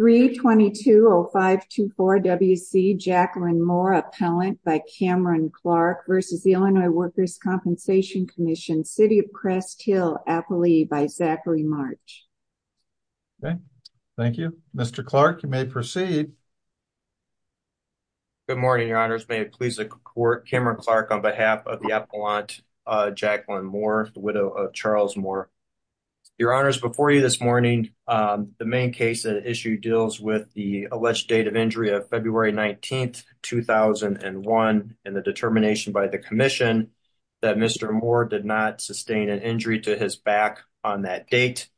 322-0524-WC Jacqueline Moore Appellant by Cameron Clark v. Illinois Workers' Compensation Comm'n City of Crest Hill Appellee by Zachary March. Thank you. Mr. Clark, you may proceed. Good morning, Your Honors. May it please the Court, Cameron Clark on behalf of the Appellant Jacqueline Moore, the widow of Charles Moore. Your Honors, before you this morning, the main case at issue deals with the alleged date of injury of February 19, 2001, and the determination by the Commission that Mr. Moore did not sustain an injury to his back on that date.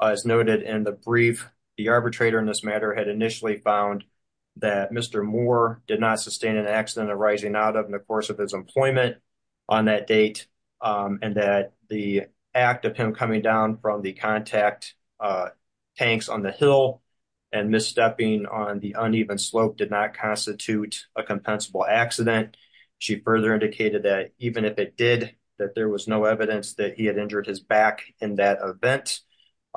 As noted in the brief, the arbitrator in this matter had initially found that Mr. Moore did not sustain an accident arising out of the course of his employment on that date, and that the act of coming down from the contact tanks on the hill and misstepping on the uneven slope did not constitute a compensable accident. She further indicated that even if it did, that there was no evidence that he had injured his back in that event,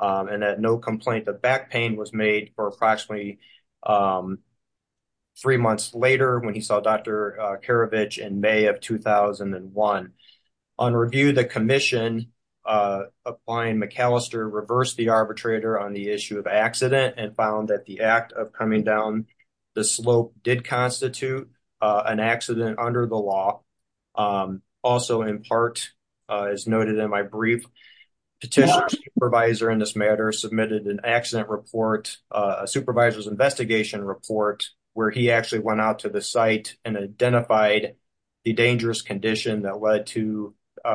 and that no complaint of back pain was made for approximately three months later when he saw Dr. Karavich in May of 2001. On review, the Commission, applying McAllister, reversed the arbitrator on the issue of accident and found that the act of coming down the slope did constitute an accident under the law. Also in part, as noted in my brief, Petitioner's supervisor in this matter submitted an accident report, a supervisor's investigation report, where he actually went out to the site and identified the dangerous condition that led to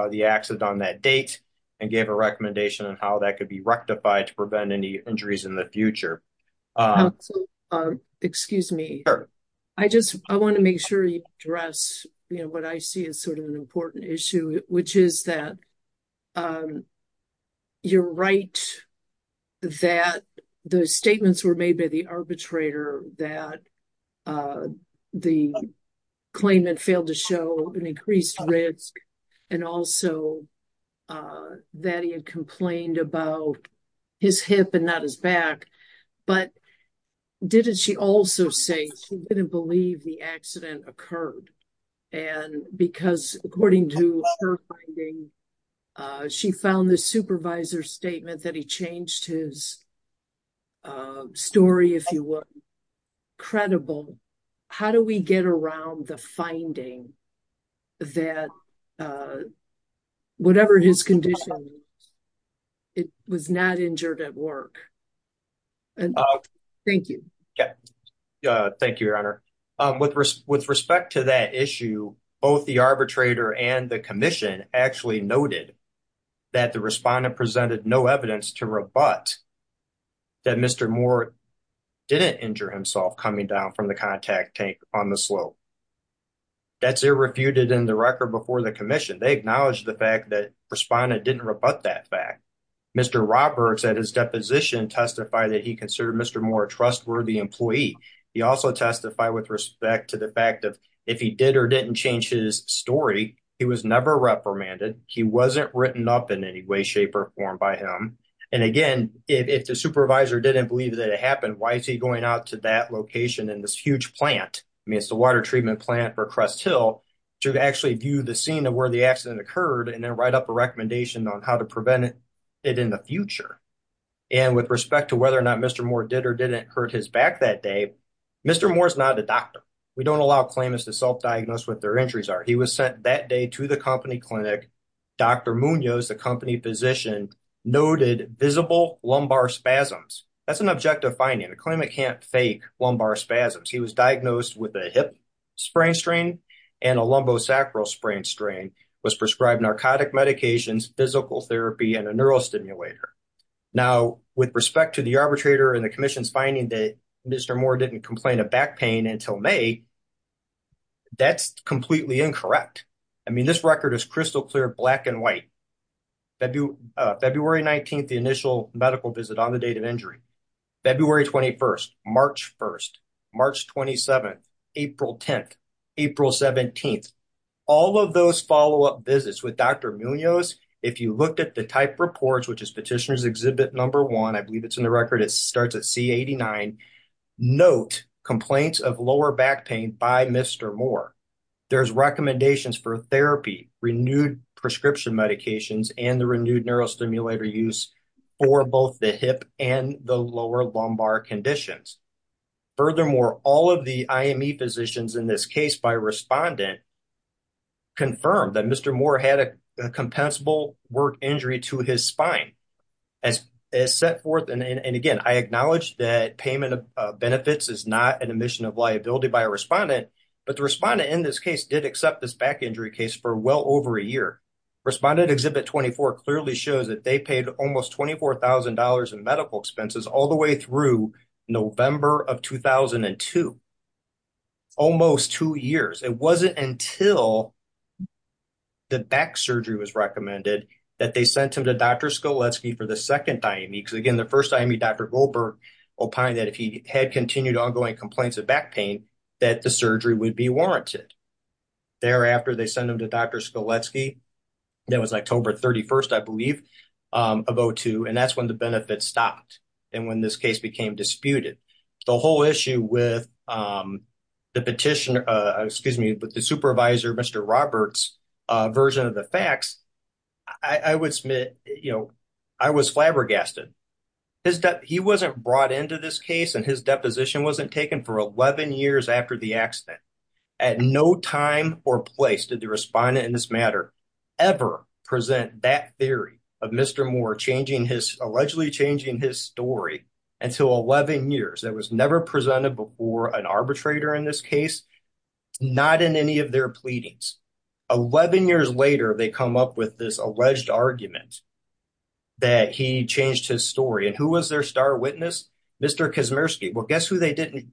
the accident on that date and gave a recommendation on how that could be rectified to prevent any injuries in the future. Excuse me. I just want to make sure you address what I see as sort of an important issue, which is that you're right that those statements were made by the arbitrator that the claimant failed to show an increased risk and also that he had complained about his hip and not his back. But didn't she also say she didn't believe the accident occurred? And because according to her finding, she found the supervisor's statement that he changed his story, if you would, credible. How do we get around the finding that whatever his condition, it was not injured at work? Thank you. Thank you, Your Honor. With respect to that issue, both the arbitrator and the Commission actually noted that the respondent presented no evidence to rebut that Mr. Moore didn't injure himself coming down from the contact tank on the slope. That's irrefuted in the record before the Commission. They acknowledged the fact that respondent didn't rebut that fact. Mr. Roberts at his deposition testified that he considered Mr. Moore a trustworthy employee. He also testified with respect to the fact that if he did or didn't change his story, he was never reprimanded. He wasn't written up in any way, shape, or form by him. And again, if the supervisor didn't believe that it happened, why is he going out to that location in this huge plant? I mean, it's the water treatment plant for Crest Hill to actually view the scene of where the accident occurred, and then write up a recommendation on how to prevent it in the future. And with respect to whether or not Mr. Moore did or didn't hurt his back that day, Mr. Moore is not a doctor. We don't allow claimants to self-diagnose what their injuries are. He was sent that day to the company clinic. Dr. Munoz, the company physician, noted visible lumbar spasms. That's an objective finding. A claimant can't fake lumbar spasms. He was diagnosed with a hip sprain strain and a lumbosacral sprain strain, was prescribed narcotic medications, physical therapy, and a neurostimulator. Now, with respect to the arbitrator and the commission's finding that Mr. Moore didn't complain of back pain until May, that's completely incorrect. I mean, this record is crystal clear, black and white. February 19th, the initial medical visit on the date of injury. February 21st, March 1st, March 27th, April 10th, April 17th. All of those follow-up visits with Dr. Munoz, if you looked at the type reports, which is petitioner's exhibit number one, I believe it's in the record, it starts at C89. Note complaints of lower back pain by Mr. Moore. There's recommendations for therapy, renewed prescription medications, and the renewed neurostimulator use for both the hip and the lower lumbar conditions. Furthermore, all of the IME physicians in this case by respondent confirmed that Mr. Moore had a compensable work injury to his spine. As set forth, and again, I acknowledge that payment of benefits is not an omission of liability by a respondent, but the respondent in this case did accept this back injury case for well over a year. Respondent exhibit 24 clearly shows that they paid almost $24,000 in medical expenses all the way through November of 2002. Almost two years. It wasn't until the back surgery was recommended that they sent him to Dr. Skoletsky for the second IME, because again, the first IME, Dr. Goldberg opined that if he had continued ongoing complaints of back pain, that the surgery would be warranted. Thereafter, they sent him to Dr. Skoletsky, that was October 31st, I believe, of 02, and that's when the benefits stopped and when this case became disputed. The whole issue with the petition, excuse me, with the supervisor, Mr. Roberts, version of the facts, I would submit, you know, I was flabbergasted. He wasn't brought into this case and his deposition wasn't taken for 11 years after the accident. At no time or place did the respondent in this matter ever present that theory of Mr. Moore allegedly changing his story until 11 years. It was never presented before an arbitrator in this case, not in any of their pleadings. 11 years later, they come up with this alleged argument that he changed his story. And who was their star witness? Mr. Kaczmierski. Well, guess who they didn't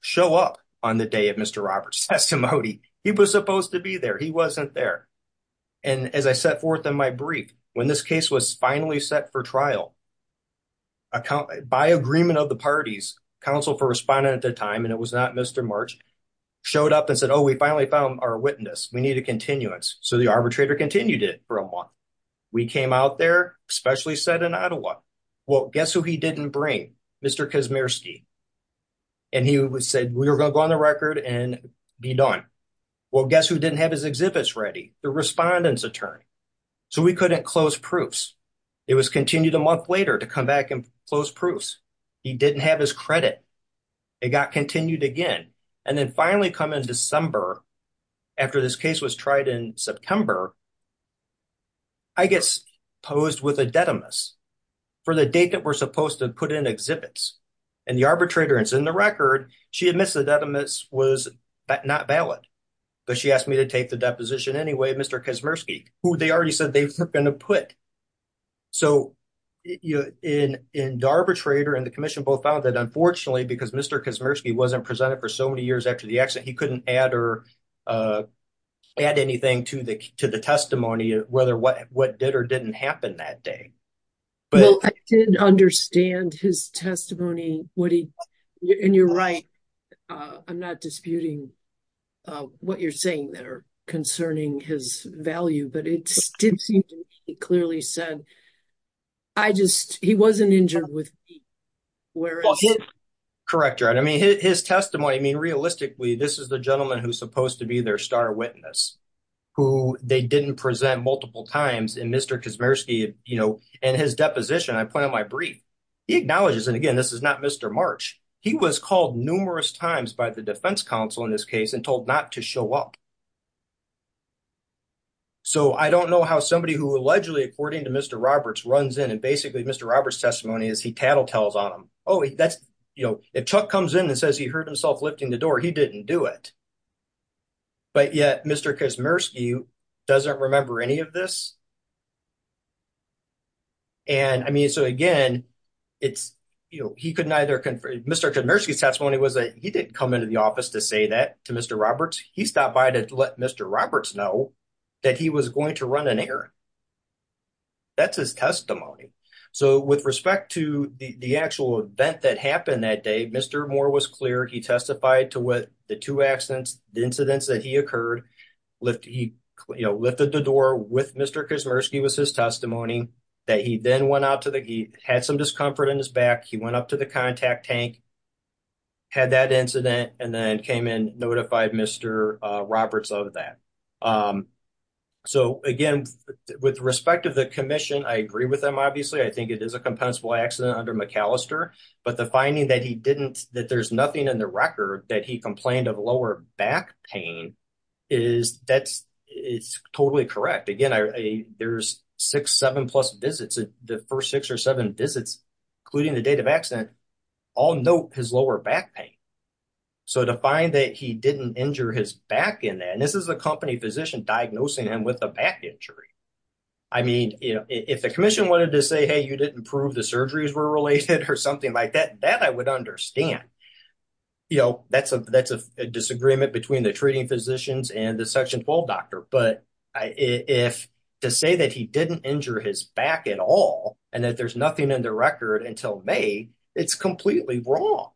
show up on the day of Mr. Roberts testimony? He was supposed to be there. He wasn't there. And as I set forth in my brief, when this case was finally set for trial, by agreement of the parties, counsel for respondent at the time, and it was not Mr. March, showed up and said, oh, we finally found our witness. We need a continuance. So the arbitrator continued it for a month. We came out there, especially set in Ottawa. Well, guess who he didn't bring? Mr. Kaczmierski. And he said, we're going to go on the record and be done. Well, guess who didn't have his exhibits ready? The respondent's attorney. So we couldn't close proofs. It was continued a month later to come back and close proofs. He didn't have his credit. It got continued again. And then finally come in December, after this case was tried in September, I get posed with a detimus for the date that we're supposed to put in exhibits. And the arbitrator is in the record. She admits the detimus was not valid, but she asked me to take the deposition anyway, Mr. Kaczmierski, who they already said they were going to put. So in the arbitrator and the commission both found that unfortunately, because Mr. Kaczmierski wasn't presented for so many years after the accident, he couldn't add or add anything to the, to the testimony, whether what, what did or didn't happen that day. Well, I didn't understand his testimony, what he, and you're right. I'm not disputing what you're saying that are concerning his value, but it did seem to be clearly said, I just, he wasn't injured with. Correct. Right. I mean, his testimony, I mean, realistically, this is the gentleman who's supposed to be their star witness who they didn't present multiple times and Mr. Kaczmierski, you know, and his deposition, I point out my brief, he acknowledges. And again, this is not Mr. March. He was called numerous times by the defense counsel in this case and told not to show up. So I don't know how somebody who allegedly, according to Mr. Roberts runs in and basically Mr. Roberts testimony is he tattletales on him. Oh, that's, you know, if Chuck comes in and says he heard himself lifting the door, he didn't do it. But yet Mr. Kaczmierski doesn't remember any of this. And I mean, so again, it's, you know, he couldn't either, Mr. Kaczmierski's testimony was that he didn't come into the office to say that to Mr. Roberts. He stopped by to let Mr. Roberts know that he was going to run an error. That's his testimony. So with respect to the actual event that happened that day, Mr. Moore was clear. He testified to what the two accidents, the incidents that he occurred, lifted the door with Mr. Kaczmierski was his testimony that he then went out to the, he had some discomfort in his back. He went up to the contact tank, had that incident, and then came in notified Mr. Roberts of that. So again, with respect of the commission, I agree with them. Obviously, I think it is a compensable accident under McAllister, but the finding that he didn't, that there's nothing in the record that he complained of lower back pain is that's, it's totally correct. Again, there's six, seven plus visits, the first six or seven visits, including the date of accident, all note his lower back pain. So to find that he didn't injure his back in that, and this is a company physician diagnosing him with a back injury. I mean, if the commission wanted to say, hey, you didn't prove the or something like that, that I would understand, you know, that's a disagreement between the treating physicians and the section 12 doctor. But if to say that he didn't injure his back at all, and that there's nothing in the record until May, it's completely wrong.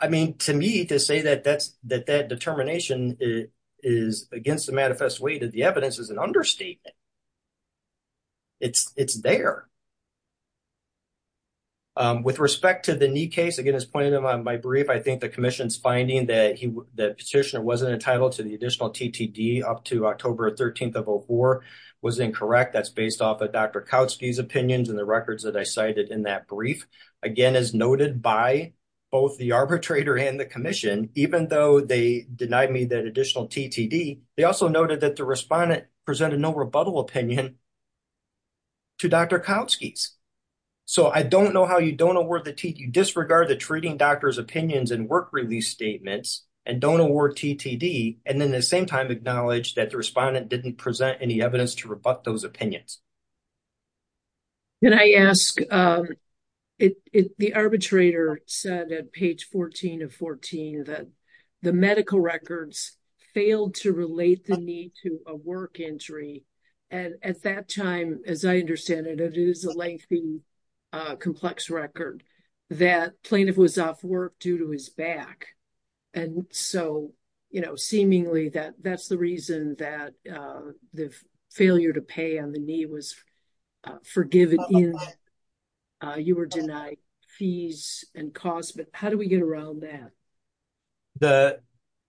I mean, to me, to say that that's, that that determination is against the manifest way of the evidence is an understatement. It's, it's there. With respect to the knee case, again, as pointed out in my brief, I think the commission's finding that he, that petitioner wasn't entitled to the additional TTD up to October 13th of 04 was incorrect. That's based off of Dr. Kautsky's opinions and the records that I cited in that brief. Again, as noted by both the arbitrator and the commission, even though they denied me that additional TTD, they also noted that the respondent presented no rebuttal opinion to Dr. Kautsky's. So I don't know how you don't award the T, you disregard the treating doctor's opinions and work release statements and don't award TTD. And then the same time acknowledged that the respondent didn't present any evidence to rebut those opinions. Can I ask, the arbitrator said at page 14 of 14 that the medical records failed to relate the knee to a work injury. And at that time, as I understand it, it is a lengthy complex record that plaintiff was off work due to his back. And so, you know, seemingly that that's the reason that the failure to pay on the knee was forgiven. You were denied fees and costs, but how do we get around that?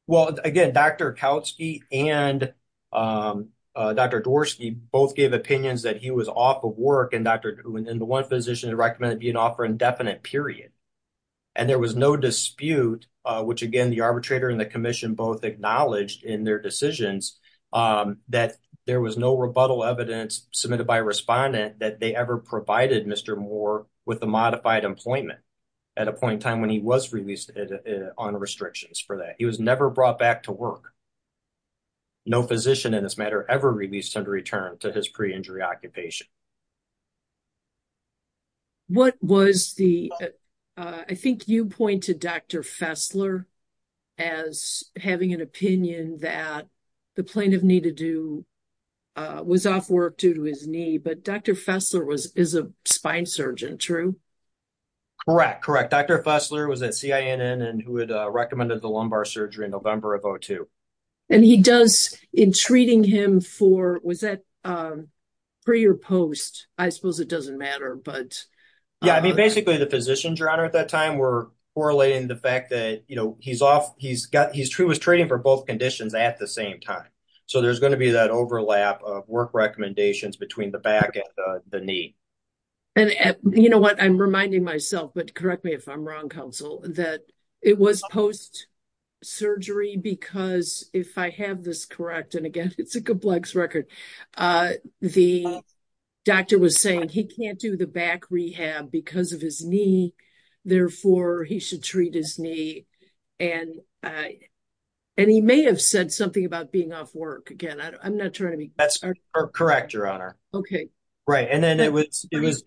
Well, again, Dr. Kautsky and Dr. Dvorsky both gave opinions that he was off of work and the one physician recommended being off indefinite period. And there was no dispute, which again, the arbitrator and the commission both acknowledged in their decisions that there was no rebuttal evidence submitted by a respondent that they ever provided Mr. Moore with the modified employment at a point in time when he was released on restrictions for that. He was never brought back to work. No physician in this matter ever released him to return to his pre-injury occupation. What was the, I think you pointed Dr. Fessler as having an opinion that the plaintiff needed to do was off work due to his knee, but Dr. Fessler was, is a spine surgeon, true? Correct. Correct. Dr. Fessler was at CINN and who had recommended the lumbar surgery in November of 02. And he does in treating him for, was that pre or post-injury? I suppose it doesn't matter, but. Yeah, I mean, basically the physicians around her at that time were correlating the fact that, you know, he's off, he's got, he was treating for both conditions at the same time. So there's going to be that overlap of work recommendations between the back and the knee. And you know what, I'm reminding myself, but correct me if I'm wrong, counsel, that it was post-surgery because if I have this correct, again, it's a complex record. The doctor was saying he can't do the back rehab because of his knee, therefore he should treat his knee. And, and he may have said something about being off work again. I'm not trying to be. That's correct, your honor. Okay. Right. And then it was, it was.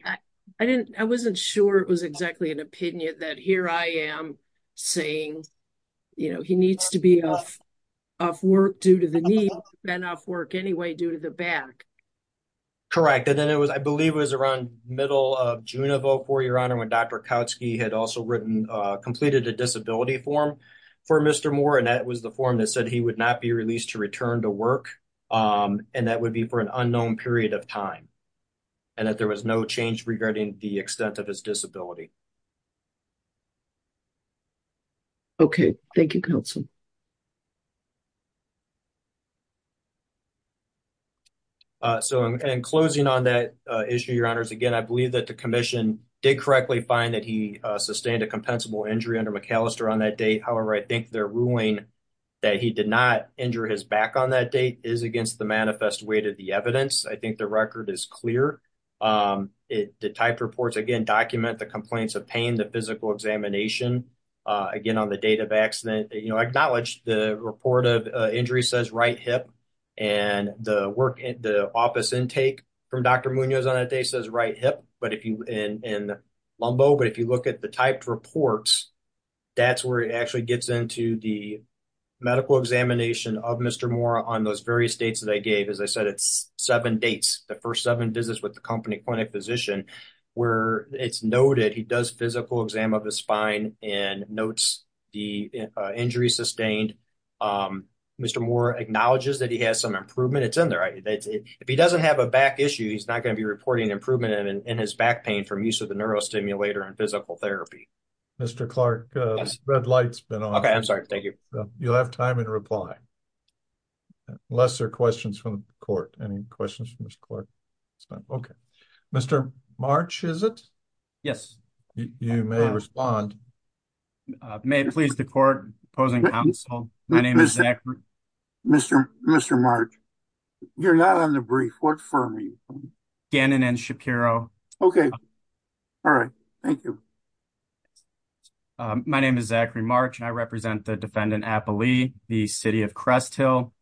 I didn't, I wasn't sure it was exactly an opinion that here I am saying, you know, he needs to be off work due to the knee and off work anyway, due to the back. Correct. And then it was, I believe it was around middle of June of 04, your honor, when Dr. Kautzke had also written, completed a disability form for Mr. Moore. And that was the form that said he would not be released to return to work. And that would be for an unknown period of time. And that there was no change regarding the extent of his disability. Okay. Thank you, counsel. So, and closing on that issue, your honors, again, I believe that the commission did correctly find that he sustained a compensable injury under McAllister on that date. However, I think their ruling that he did not injure his back on that date is against the manifest way to the evidence. I think the record is clear. It, the type reports again, document the complaint, the pain, the physical examination, again, on the date of accident, you know, I acknowledge the report of injury says right hip and the work, the office intake from Dr. Munoz on that day says right hip, but if you, and LUMBO, but if you look at the typed reports, that's where it actually gets into the medical examination of Mr. Moore on those various dates that I gave, as I said, it's seven dates, the first seven visits with the company clinic physician where it's noted, he does physical exam of his spine and notes the injury sustained. Mr. Moore acknowledges that he has some improvement. It's in there. If he doesn't have a back issue, he's not going to be reporting improvement in his back pain from use of the neurostimulator and physical therapy. Mr. Clark, red light's been on. Okay. I'm sorry. Thank you. You'll have time in reply, lesser questions from the court. Any questions from Mr. Clark? Okay. Mr. March, is it? Yes. You may respond. May it please the court opposing counsel. My name is Zachary. Mr. Mr. March, you're not on the brief. What firm are you from? Gannon and Shapiro. Okay. All right. Thank you. My name is Zachary March, and I represent the defendant, Appley, the city of Cresthill.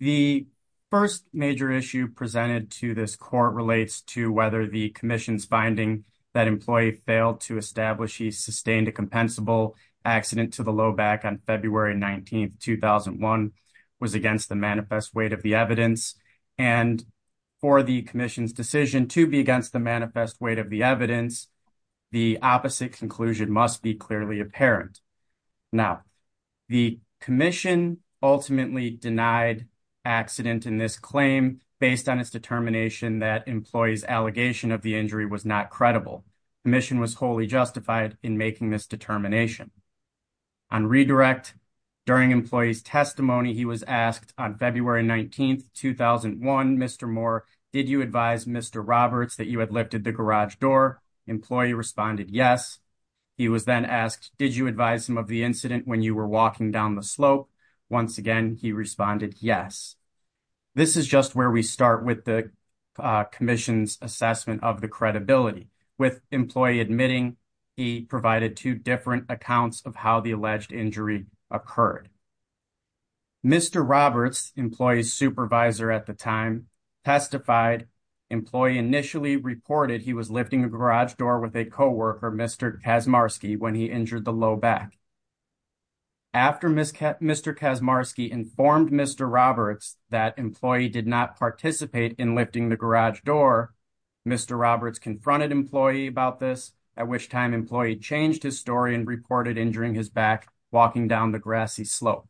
The first major issue presented to this court relates to whether the commission's finding that employee failed to establish he sustained a compensable accident to the low back on February 19th, 2001 was against the manifest weight of the evidence. And for the commission's decision to be against the manifest weight of the evidence, the opposite conclusion must be clearly apparent. Now, the commission ultimately denied accident in this claim based on its determination that employees allegation of the injury was not credible. Commission was wholly justified in making this determination. On redirect during employees testimony, he was asked on February 19th, 2001, Mr. Moore, did you advise Mr. Roberts that you had lifted the garage door? Employee responded, yes. He was then asked, did you advise him of the incident when you were walking down the slope? Once again, he responded, yes. This is just where we start with the commission's assessment of the credibility with employee admitting he provided two different accounts of how the alleged injury occurred. Mr. Roberts employees supervisor at the time testified employee initially reported he was lifting a garage door with a coworker, Mr. Kazmarski when he injured the low back. After Mr. Kazmarski informed Mr. Roberts that employee did not participate in lifting the garage door, Mr. Roberts confronted employee about this, at which time employee changed his story and reported injuring his back walking down the slope.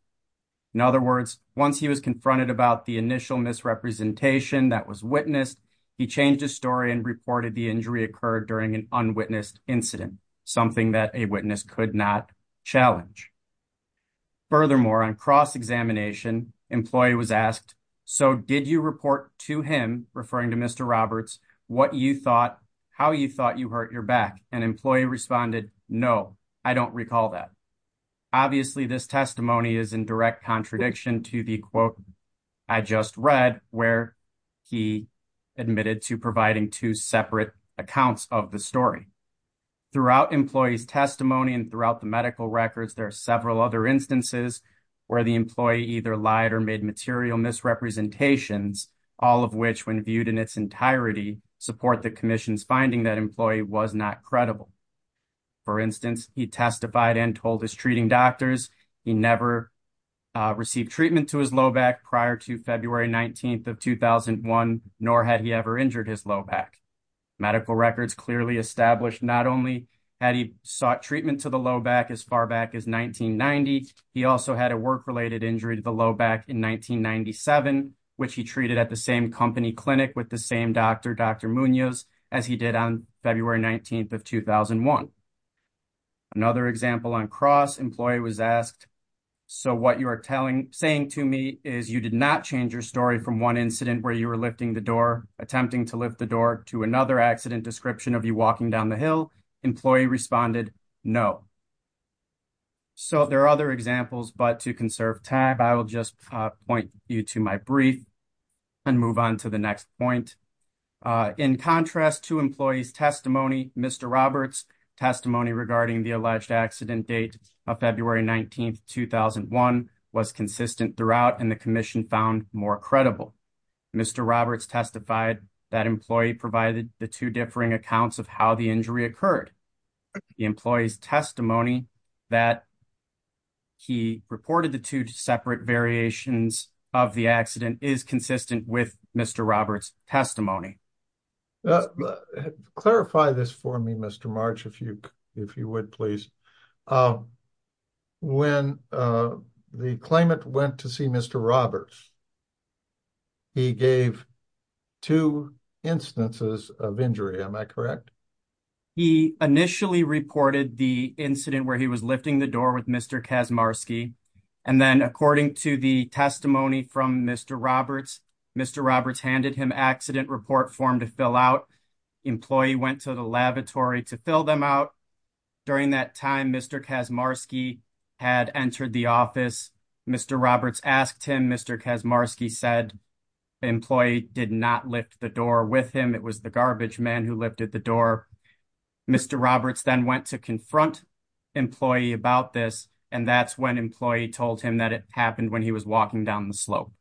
He changed his story and reported the injury occurred during an unwitnessed incident, something that a witness could not challenge. Furthermore, on cross-examination, employee was asked, so did you report to him, referring to Mr. Roberts, what you thought, how you thought you hurt your back? And employee responded, no, I don't recall that. Obviously, this testimony is in direct contradiction to the quote I just read where he admitted to providing two separate accounts of the story. Throughout employee's testimony and throughout the medical records, there are several other instances where the employee either lied or made material misrepresentations, all of which when viewed in its entirety, support the commission's finding that employee was not credible. For instance, he testified and told his treating doctors he never received treatment to his low back prior to February 19th of 2001, nor had he ever injured his low back. Medical records clearly established not only had he sought treatment to the low back as far back as 1990, he also had a work-related injury to the low back in 1997, which he treated at the same company clinic with the same doctor, as he did on February 19th of 2001. Another example on cross, employee was asked, so what you are telling, saying to me is you did not change your story from one incident where you were lifting the door, attempting to lift the door to another accident description of you walking down the hill. Employee responded, no. So there are other examples, but to conserve time, I will just point you to my brief and move on to the next point. In contrast to employee's testimony, Mr. Roberts' testimony regarding the alleged accident date of February 19th, 2001 was consistent throughout and the commission found more credible. Mr. Roberts testified that employee provided the two differing accounts of how the injury occurred. The employee's testimony that he reported the two separate variations of the accident is consistent with Mr. Roberts' testimony. Now, clarify this for me, Mr. March, if you would, please. When the claimant went to see Mr. Roberts, he gave two instances of injury, am I correct? He initially reported the incident where he was lifting the door with Mr. Kazmarski, and then according to the testimony from Mr. Roberts, Mr. Roberts handed him accident report form to fill out. Employee went to the lavatory to fill them out. During that time, Mr. Kazmarski had entered the office. Mr. Roberts asked him, Mr. Kazmarski said, employee did not lift the door with him. It was the garbage man who lifted the door. Mr. Roberts then went to confront employee about this, and that's when employee told him that it happened when he was walking down the slope.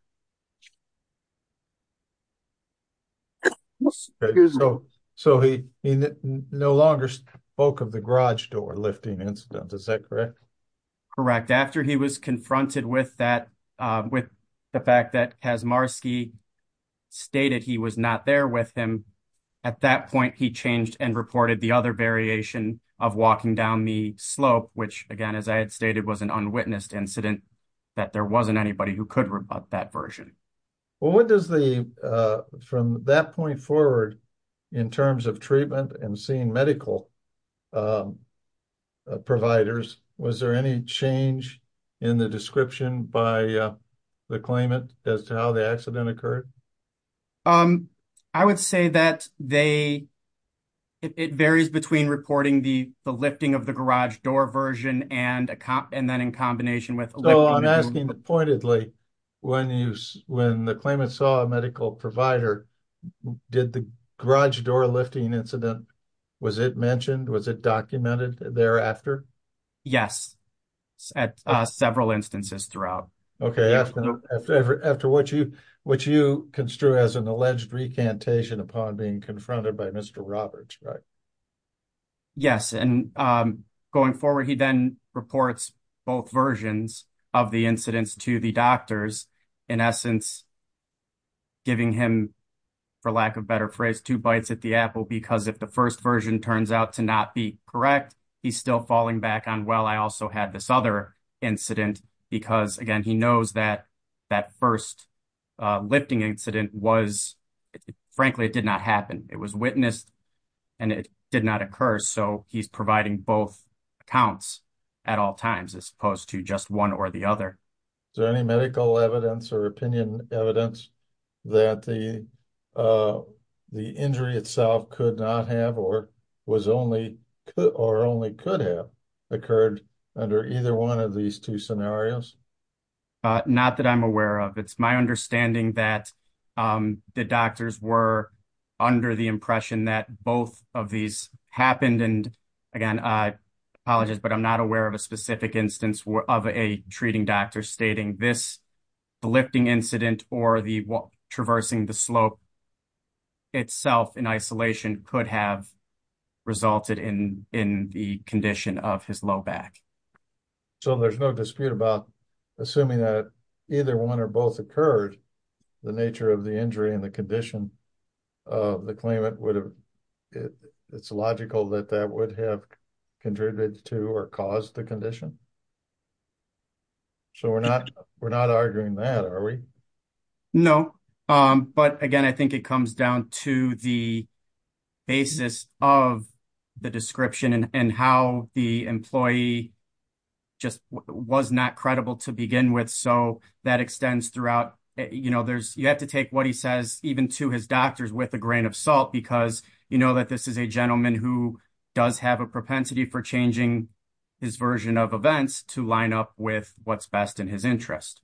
So he no longer spoke of the garage door lifting incident, is that correct? Correct. After he was confronted with that, with the fact that Kazmarski stated he was not there with him, at that point he changed and reported the other variation of walking down the slope, which again, as I had stated, was an unwitnessed incident, that there wasn't anybody who could rebut that version. From that point forward, in terms of treatment and seeing medical providers, was there any change in the description by the claimant as to how the accident occurred? Um, I would say that they, it varies between reporting the lifting of the garage door version and then in combination with... So I'm asking pointedly, when the claimant saw a medical provider, did the garage door lifting incident, was it mentioned, was it documented thereafter? Yes, at several instances throughout. Okay, after what you, which you construe as an alleged recantation upon being confronted by Mr. Roberts, right? Yes, and going forward, he then reports both versions of the incidents to the doctors, in essence, giving him, for lack of better phrase, two bites at the apple, because if the first turns out to not be correct, he's still falling back on, well, I also had this other incident, because again, he knows that that first lifting incident was, frankly, it did not happen. It was witnessed and it did not occur. So he's providing both accounts at all times, as opposed to just one or the other. Is there any medical evidence or opinion evidence that the, uh, injury itself could not have or was only, or only could have occurred under either one of these two scenarios? Uh, not that I'm aware of. It's my understanding that, um, the doctors were under the impression that both of these happened. And again, I apologize, but I'm not aware of a specific instance of a treating doctor stating this, the lifting incident or the traversing the slope itself in isolation could have resulted in, in the condition of his low back. So there's no dispute about assuming that either one or both occurred, the nature of the injury and the condition of the claimant would have, it's logical that that would have contributed to or caused the condition. So we're not, we're not arguing that, are we? No. Um, but again, I think it comes down to the basis of the description and how the employee just was not credible to begin with. So that extends throughout, you know, there's, you have to take what he says, even to his doctors with a grain of salt, because you know that this is a gentleman who does have a propensity for changing his version of events to line up with what's best in his interest.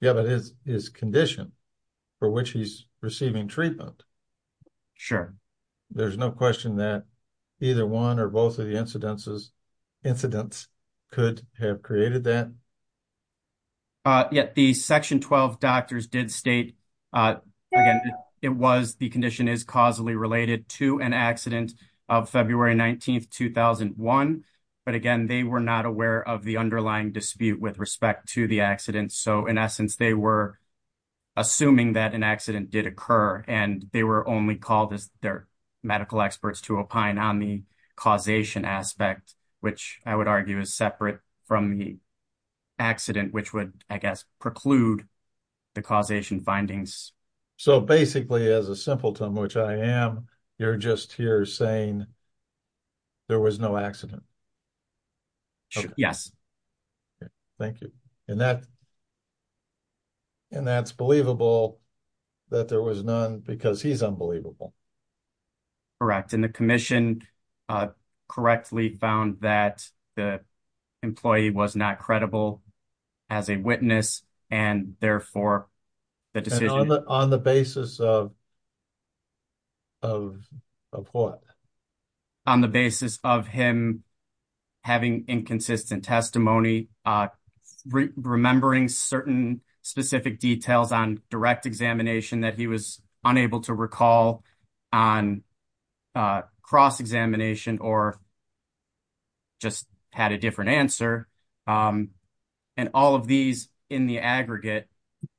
Yeah, but his condition for which he's receiving treatment. Sure. There's no question that either one or both of the incidences, incidents could have created that. Uh, yeah, the section 12 doctors did state, uh, again, it was, the condition is causally related to an accident of February 19th, 2001. But again, they were not aware of the underlying dispute with respect to the accident. So in essence, they were assuming that an accident did occur and they were only called as their medical experts to opine on the causation aspect, which I would argue is separate from the accident, which would, I guess, preclude the causation findings. So basically as a simpleton, which I am, you're just here saying there was no accident. Yes. Okay. Thank you. And that, and that's believable that there was none because he's unbelievable. Correct. And the commission, uh, correctly found that the employee was not credible as a witness and therefore the decision on the basis of, of what on the basis of him having inconsistent testimony, uh, remembering certain specific details on direct examination that he was unable to recall on, uh, cross examination or just had a different answer. Um, and all of these in the aggregate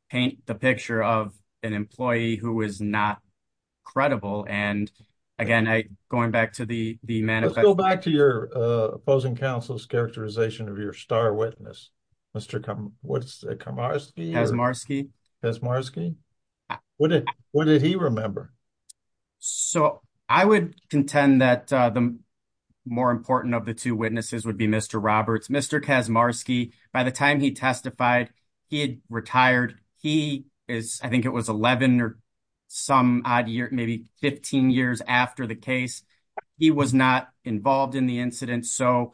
paint the picture of an employee who is not credible. And again, I going back to the, the man, Let's go back to your, uh, opposing counsel's characterization of your star witness, Mr. Kamarski. What did he remember? So I would contend that, uh, the more important of the two witnesses would be Mr. Roberts, Mr. Kazmarski. By the time he testified, he had retired. He is, I think it was 11 or some odd year, maybe 15 years after the case, he was not involved in the incident. So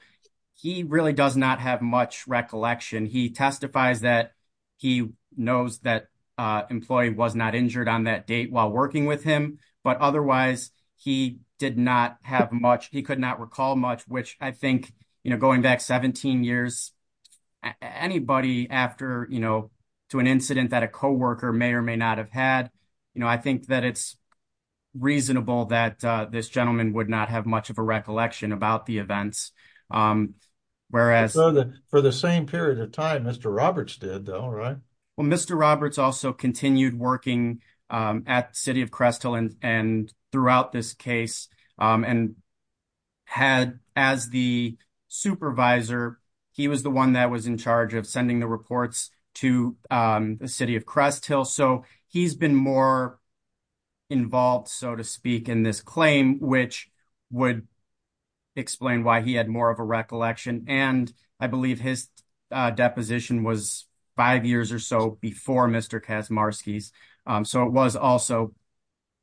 he really does not have much recollection. He testifies that he knows that, uh, employee was injured on that date while working with him, but otherwise he did not have much, he could not recall much, which I think, you know, going back 17 years, anybody after, you know, to an incident that a coworker may or may not have had, you know, I think that it's reasonable that, uh, this gentleman would not have much of a recollection about the events. Um, whereas for the same period of time, Mr. Roberts did though, right? Well, Mr. Roberts also continued working, um, at city of Cresthill and, and throughout this case, um, and had as the supervisor, he was the one that was in charge of sending the reports to, um, the city of Cresthill. So he's been more involved, so to speak in this claim, which would explain why he had more of a recollection. And I believe his, uh, deposition was five years or so before Mr. Kazmarskis. Um, so it was also,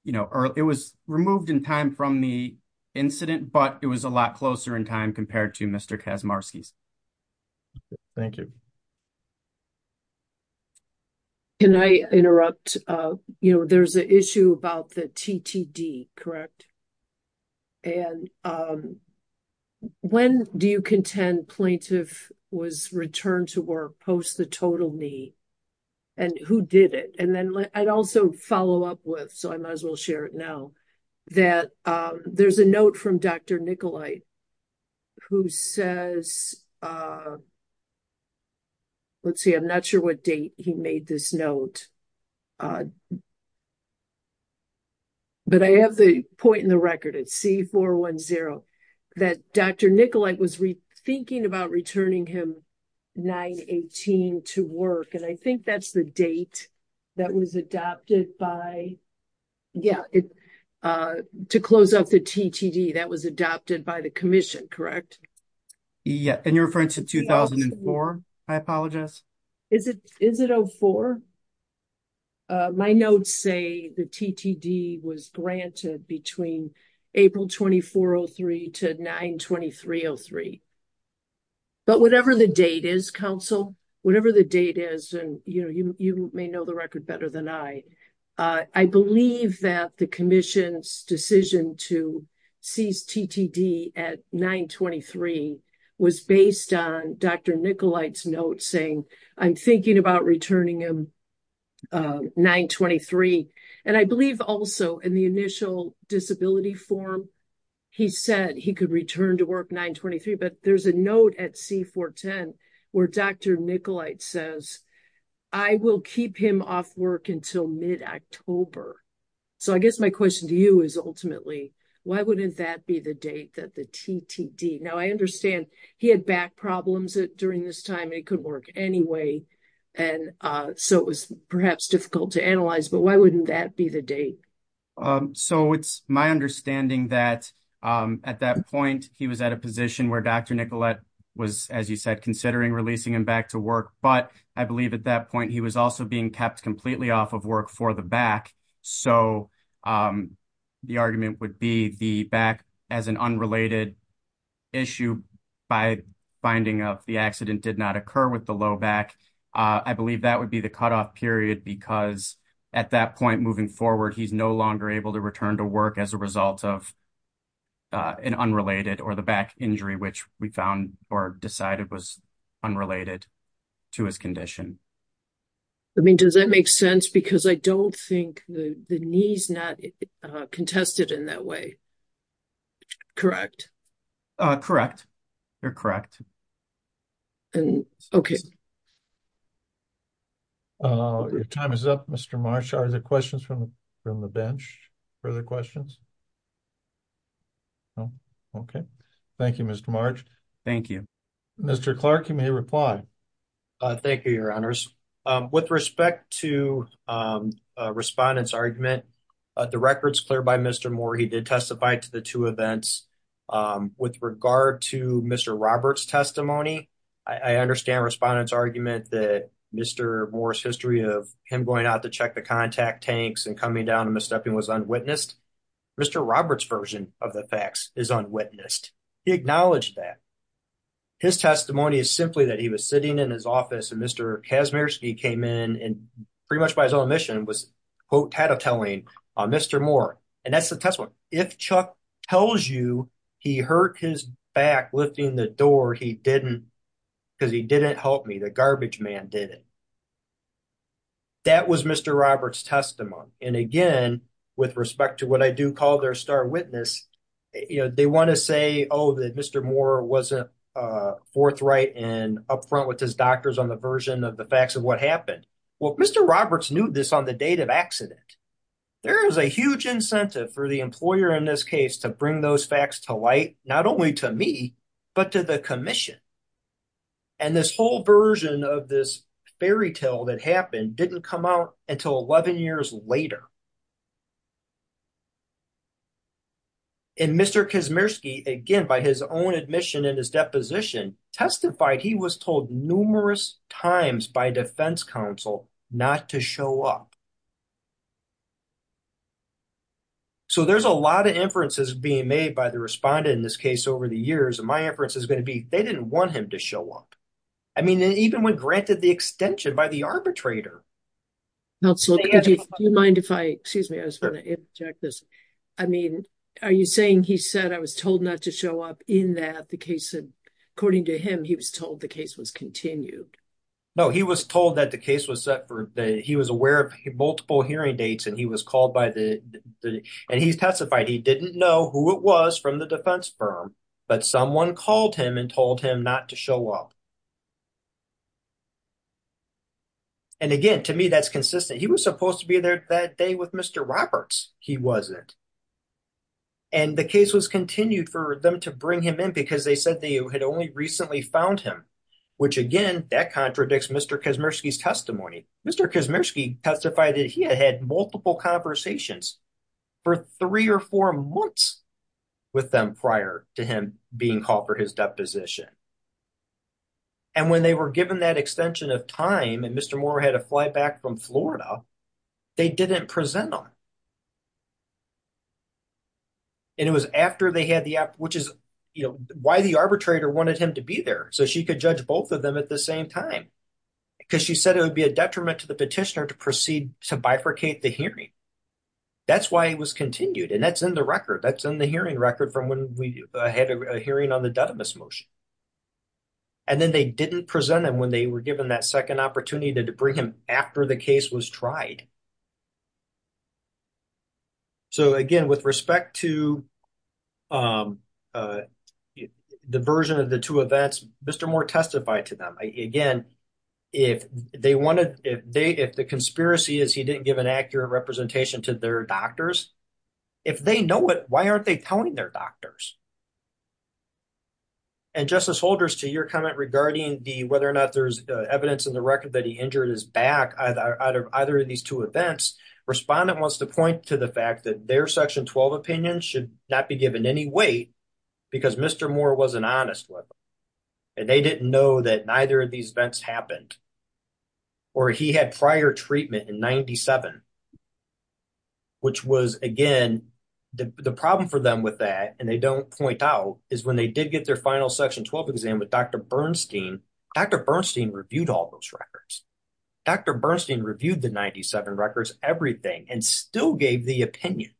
you know, it was removed in time from the incident, but it was a lot closer in time compared to Mr. Kazmarskis. Thank you. Can I interrupt? Uh, you know, there's an issue about the TTD, correct? And, um, when do you contend plaintiff was returned to work post the total knee and who did it? And then I'd also follow up with, so I might as well share it now that, um, there's a note from Dr. Nikolai who says, uh, let's see, I'm not sure what date he made this note. Uh, but I have the point in the record at C410 that Dr. Nikolai was re thinking about returning him 918 to work. And I think that's the date that was adopted by. Yeah. Uh, to close up the TTD that was adopted by the commission, correct? Yeah. And you're referring to 2004. I apologize. Is it, is it Oh four? Uh, my notes say the TTD was granted between April 24 Oh three to nine 23 Oh three, but whatever the date is council, whatever the date is. And you know, you, you may know the record better than I, uh, I believe that the commission's decision to TTD at nine 23 was based on Dr. Nikolai's note saying I'm thinking about returning him, uh, nine 23. And I believe also in the initial disability form, he said he could return to work nine 23, but there's a note at C410 where Dr. Nikolai says, I will keep him off work until mid October. So I guess my question to you is ultimately, why wouldn't that be the date that the TTD now I understand he had back problems during this time and it could work anyway. And, uh, so it was perhaps difficult to analyze, but why wouldn't that be the date? So it's my understanding that, um, at that point he was at a position where Dr. Nicolette was, as you said, considering releasing him back to work. But I believe at that point, he was also being kept completely off of work for the back. So, um, the argument would be the back as an unrelated issue by finding of the accident did not occur with the low back. Uh, I believe that would be the cutoff period because at that point, moving forward, he's no longer able to return to work as a result of, uh, an unrelated or the back injury, which we found or decided was unrelated to his condition. I mean, does that make sense? Because I don't think the, the knees not, uh, contested in that way. Correct. Uh, correct. You're correct. And okay. Uh, your time is up Mr. Marsh. Are there questions from the bench? Further questions? No. Okay. Thank you, Mr. March. Thank you, Mr. Clark. You may reply. Uh, thank you, your honors. Um, with respect to, um, uh, respondents argument, uh, the records clear by Mr. Moore. He did testify to the two events, um, with regard to Mr. Robert's testimony. I understand respondents argument that Mr. Moore's history of him going out to check the contact tanks and coming down and misstepping was unwitnessed. Mr. Robert's version of the facts is unwitnessed. He acknowledged that his testimony is simply that he was sitting in his office and Mr. Kazmierski came in and pretty much by his own mission was quote tattletaling on Mr. Moore. And that's the test one. If Chuck tells you he hurt his back lifting the door, he didn't because he didn't help me. The garbage man did it. That was Mr. Robert's testimony. And again, with respect to what I do call their star witness, you know, they want to say, oh, that Mr. Moore wasn't, uh, forthright and upfront with his doctors on the version of the facts of what happened. Well, Mr. Roberts knew this on the date of accident. There is a huge incentive for the employer in this case to bring those but to the commission. And this whole version of this fairy tale that happened didn't come out until 11 years later. And Mr. Kazmierski, again, by his own admission in his deposition testified he was told numerous times by defense counsel not to show up. So there's a lot of inferences being made by the respondent in this case over the years. And my inference is going to be, they didn't want him to show up. I mean, even when granted the extension by the arbitrator. Do you mind if I, excuse me, I was going to interject this. I mean, are you saying he said I was told not to show up in that the case said, according to him, he was told the case was continued. No, he was told that the case was set for he was aware of multiple hearing dates and he was called by the, and he testified he didn't know who it was from the defense firm, but someone called him and told him not to show up. And again, to me, that's consistent. He was supposed to be there that day with Mr. Roberts. He wasn't. And the case was continued for them to bring him in because they said they had only recently found him, which again, that contradicts Mr. Kazmierski's testimony. Mr. Kazmierski testified that he had had multiple conversations for three or four months with them prior to him being called for his deposition. And when they were given that extension of time and Mr. Moore had a flight back from Florida, they didn't present them. And it was after they had the app, which is why the arbitrator wanted him to be there. So she could judge both of them at the same time because she said it would be a detriment to the petitioner to proceed to bifurcate the hearing. That's why it was continued. And that's in the record. That's in the hearing record from when we had a hearing on the Dudamus motion. And then they didn't present him when they were given that second opportunity to bring him after the case was tried. So again, with respect to the version of the two events, Mr. Moore testified to them. Again, if the conspiracy is he didn't give an accurate representation to their doctors, if they know it, why aren't they telling their doctors? And Justice Holders, to your comment regarding whether or not there's evidence in the record that he injured his back out of either of these two events, respondent wants to point to the fact that their section 12 opinions should not be given any weight because Mr. Moore wasn't honest with them. And they didn't know that neither of these events happened or he had prior treatment in 97, which was again, the problem for them with that. And they don't point out is when they did get their final section 12 exam with Dr. Bernstein, Dr. Bernstein reviewed all those records. Dr. Bernstein reviewed the 97 records, everything, and still gave the opinion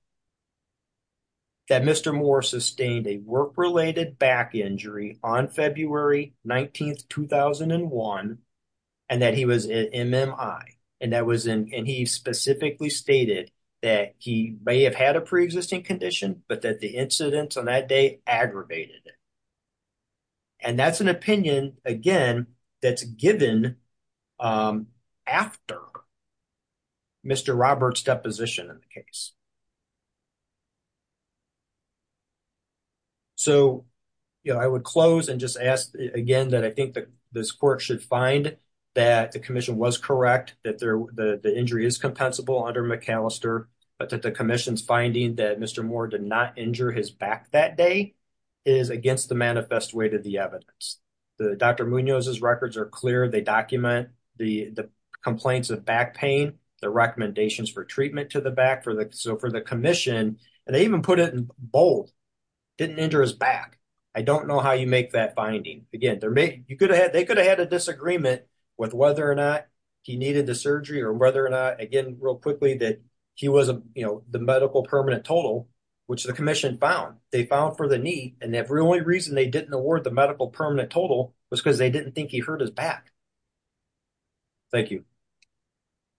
that Mr. Moore sustained a work-related back injury on February 19th, 2001, and that he was an MMI. And that was in, and he specifically stated that he may have had a preexisting condition, but that the incidents on that day aggravated it. And that's an opinion, again, that's given after Mr. Robert's deposition in the case. So, you know, I would close and just ask again, that I think that this court should find that the commission was correct, that the injury is compensable under McAllister, but that the commission's finding that Mr. Moore did not injure his back that day is against the manifest way to the evidence. The Dr. Munoz's records are clear. They document the complaints of back pain, the recommendations for treatment to the back, so for the commission, and they even put it in bold, didn't injure his back. I don't know how you make that finding. Again, they could have had a disagreement with whether or not he needed the surgery or whether or not, again, real quickly, that he was the medical permanent total, which the commission found. They found for the knee, and the only reason they didn't award the medical permanent total was because they didn't think he hurt his back. Thank you.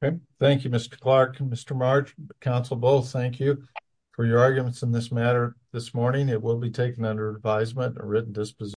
Okay, thank you, Mr. Clark. Mr. Marge, counsel, both, thank you for your arguments in this matter this morning. It will be taken under advisement and a written disposition.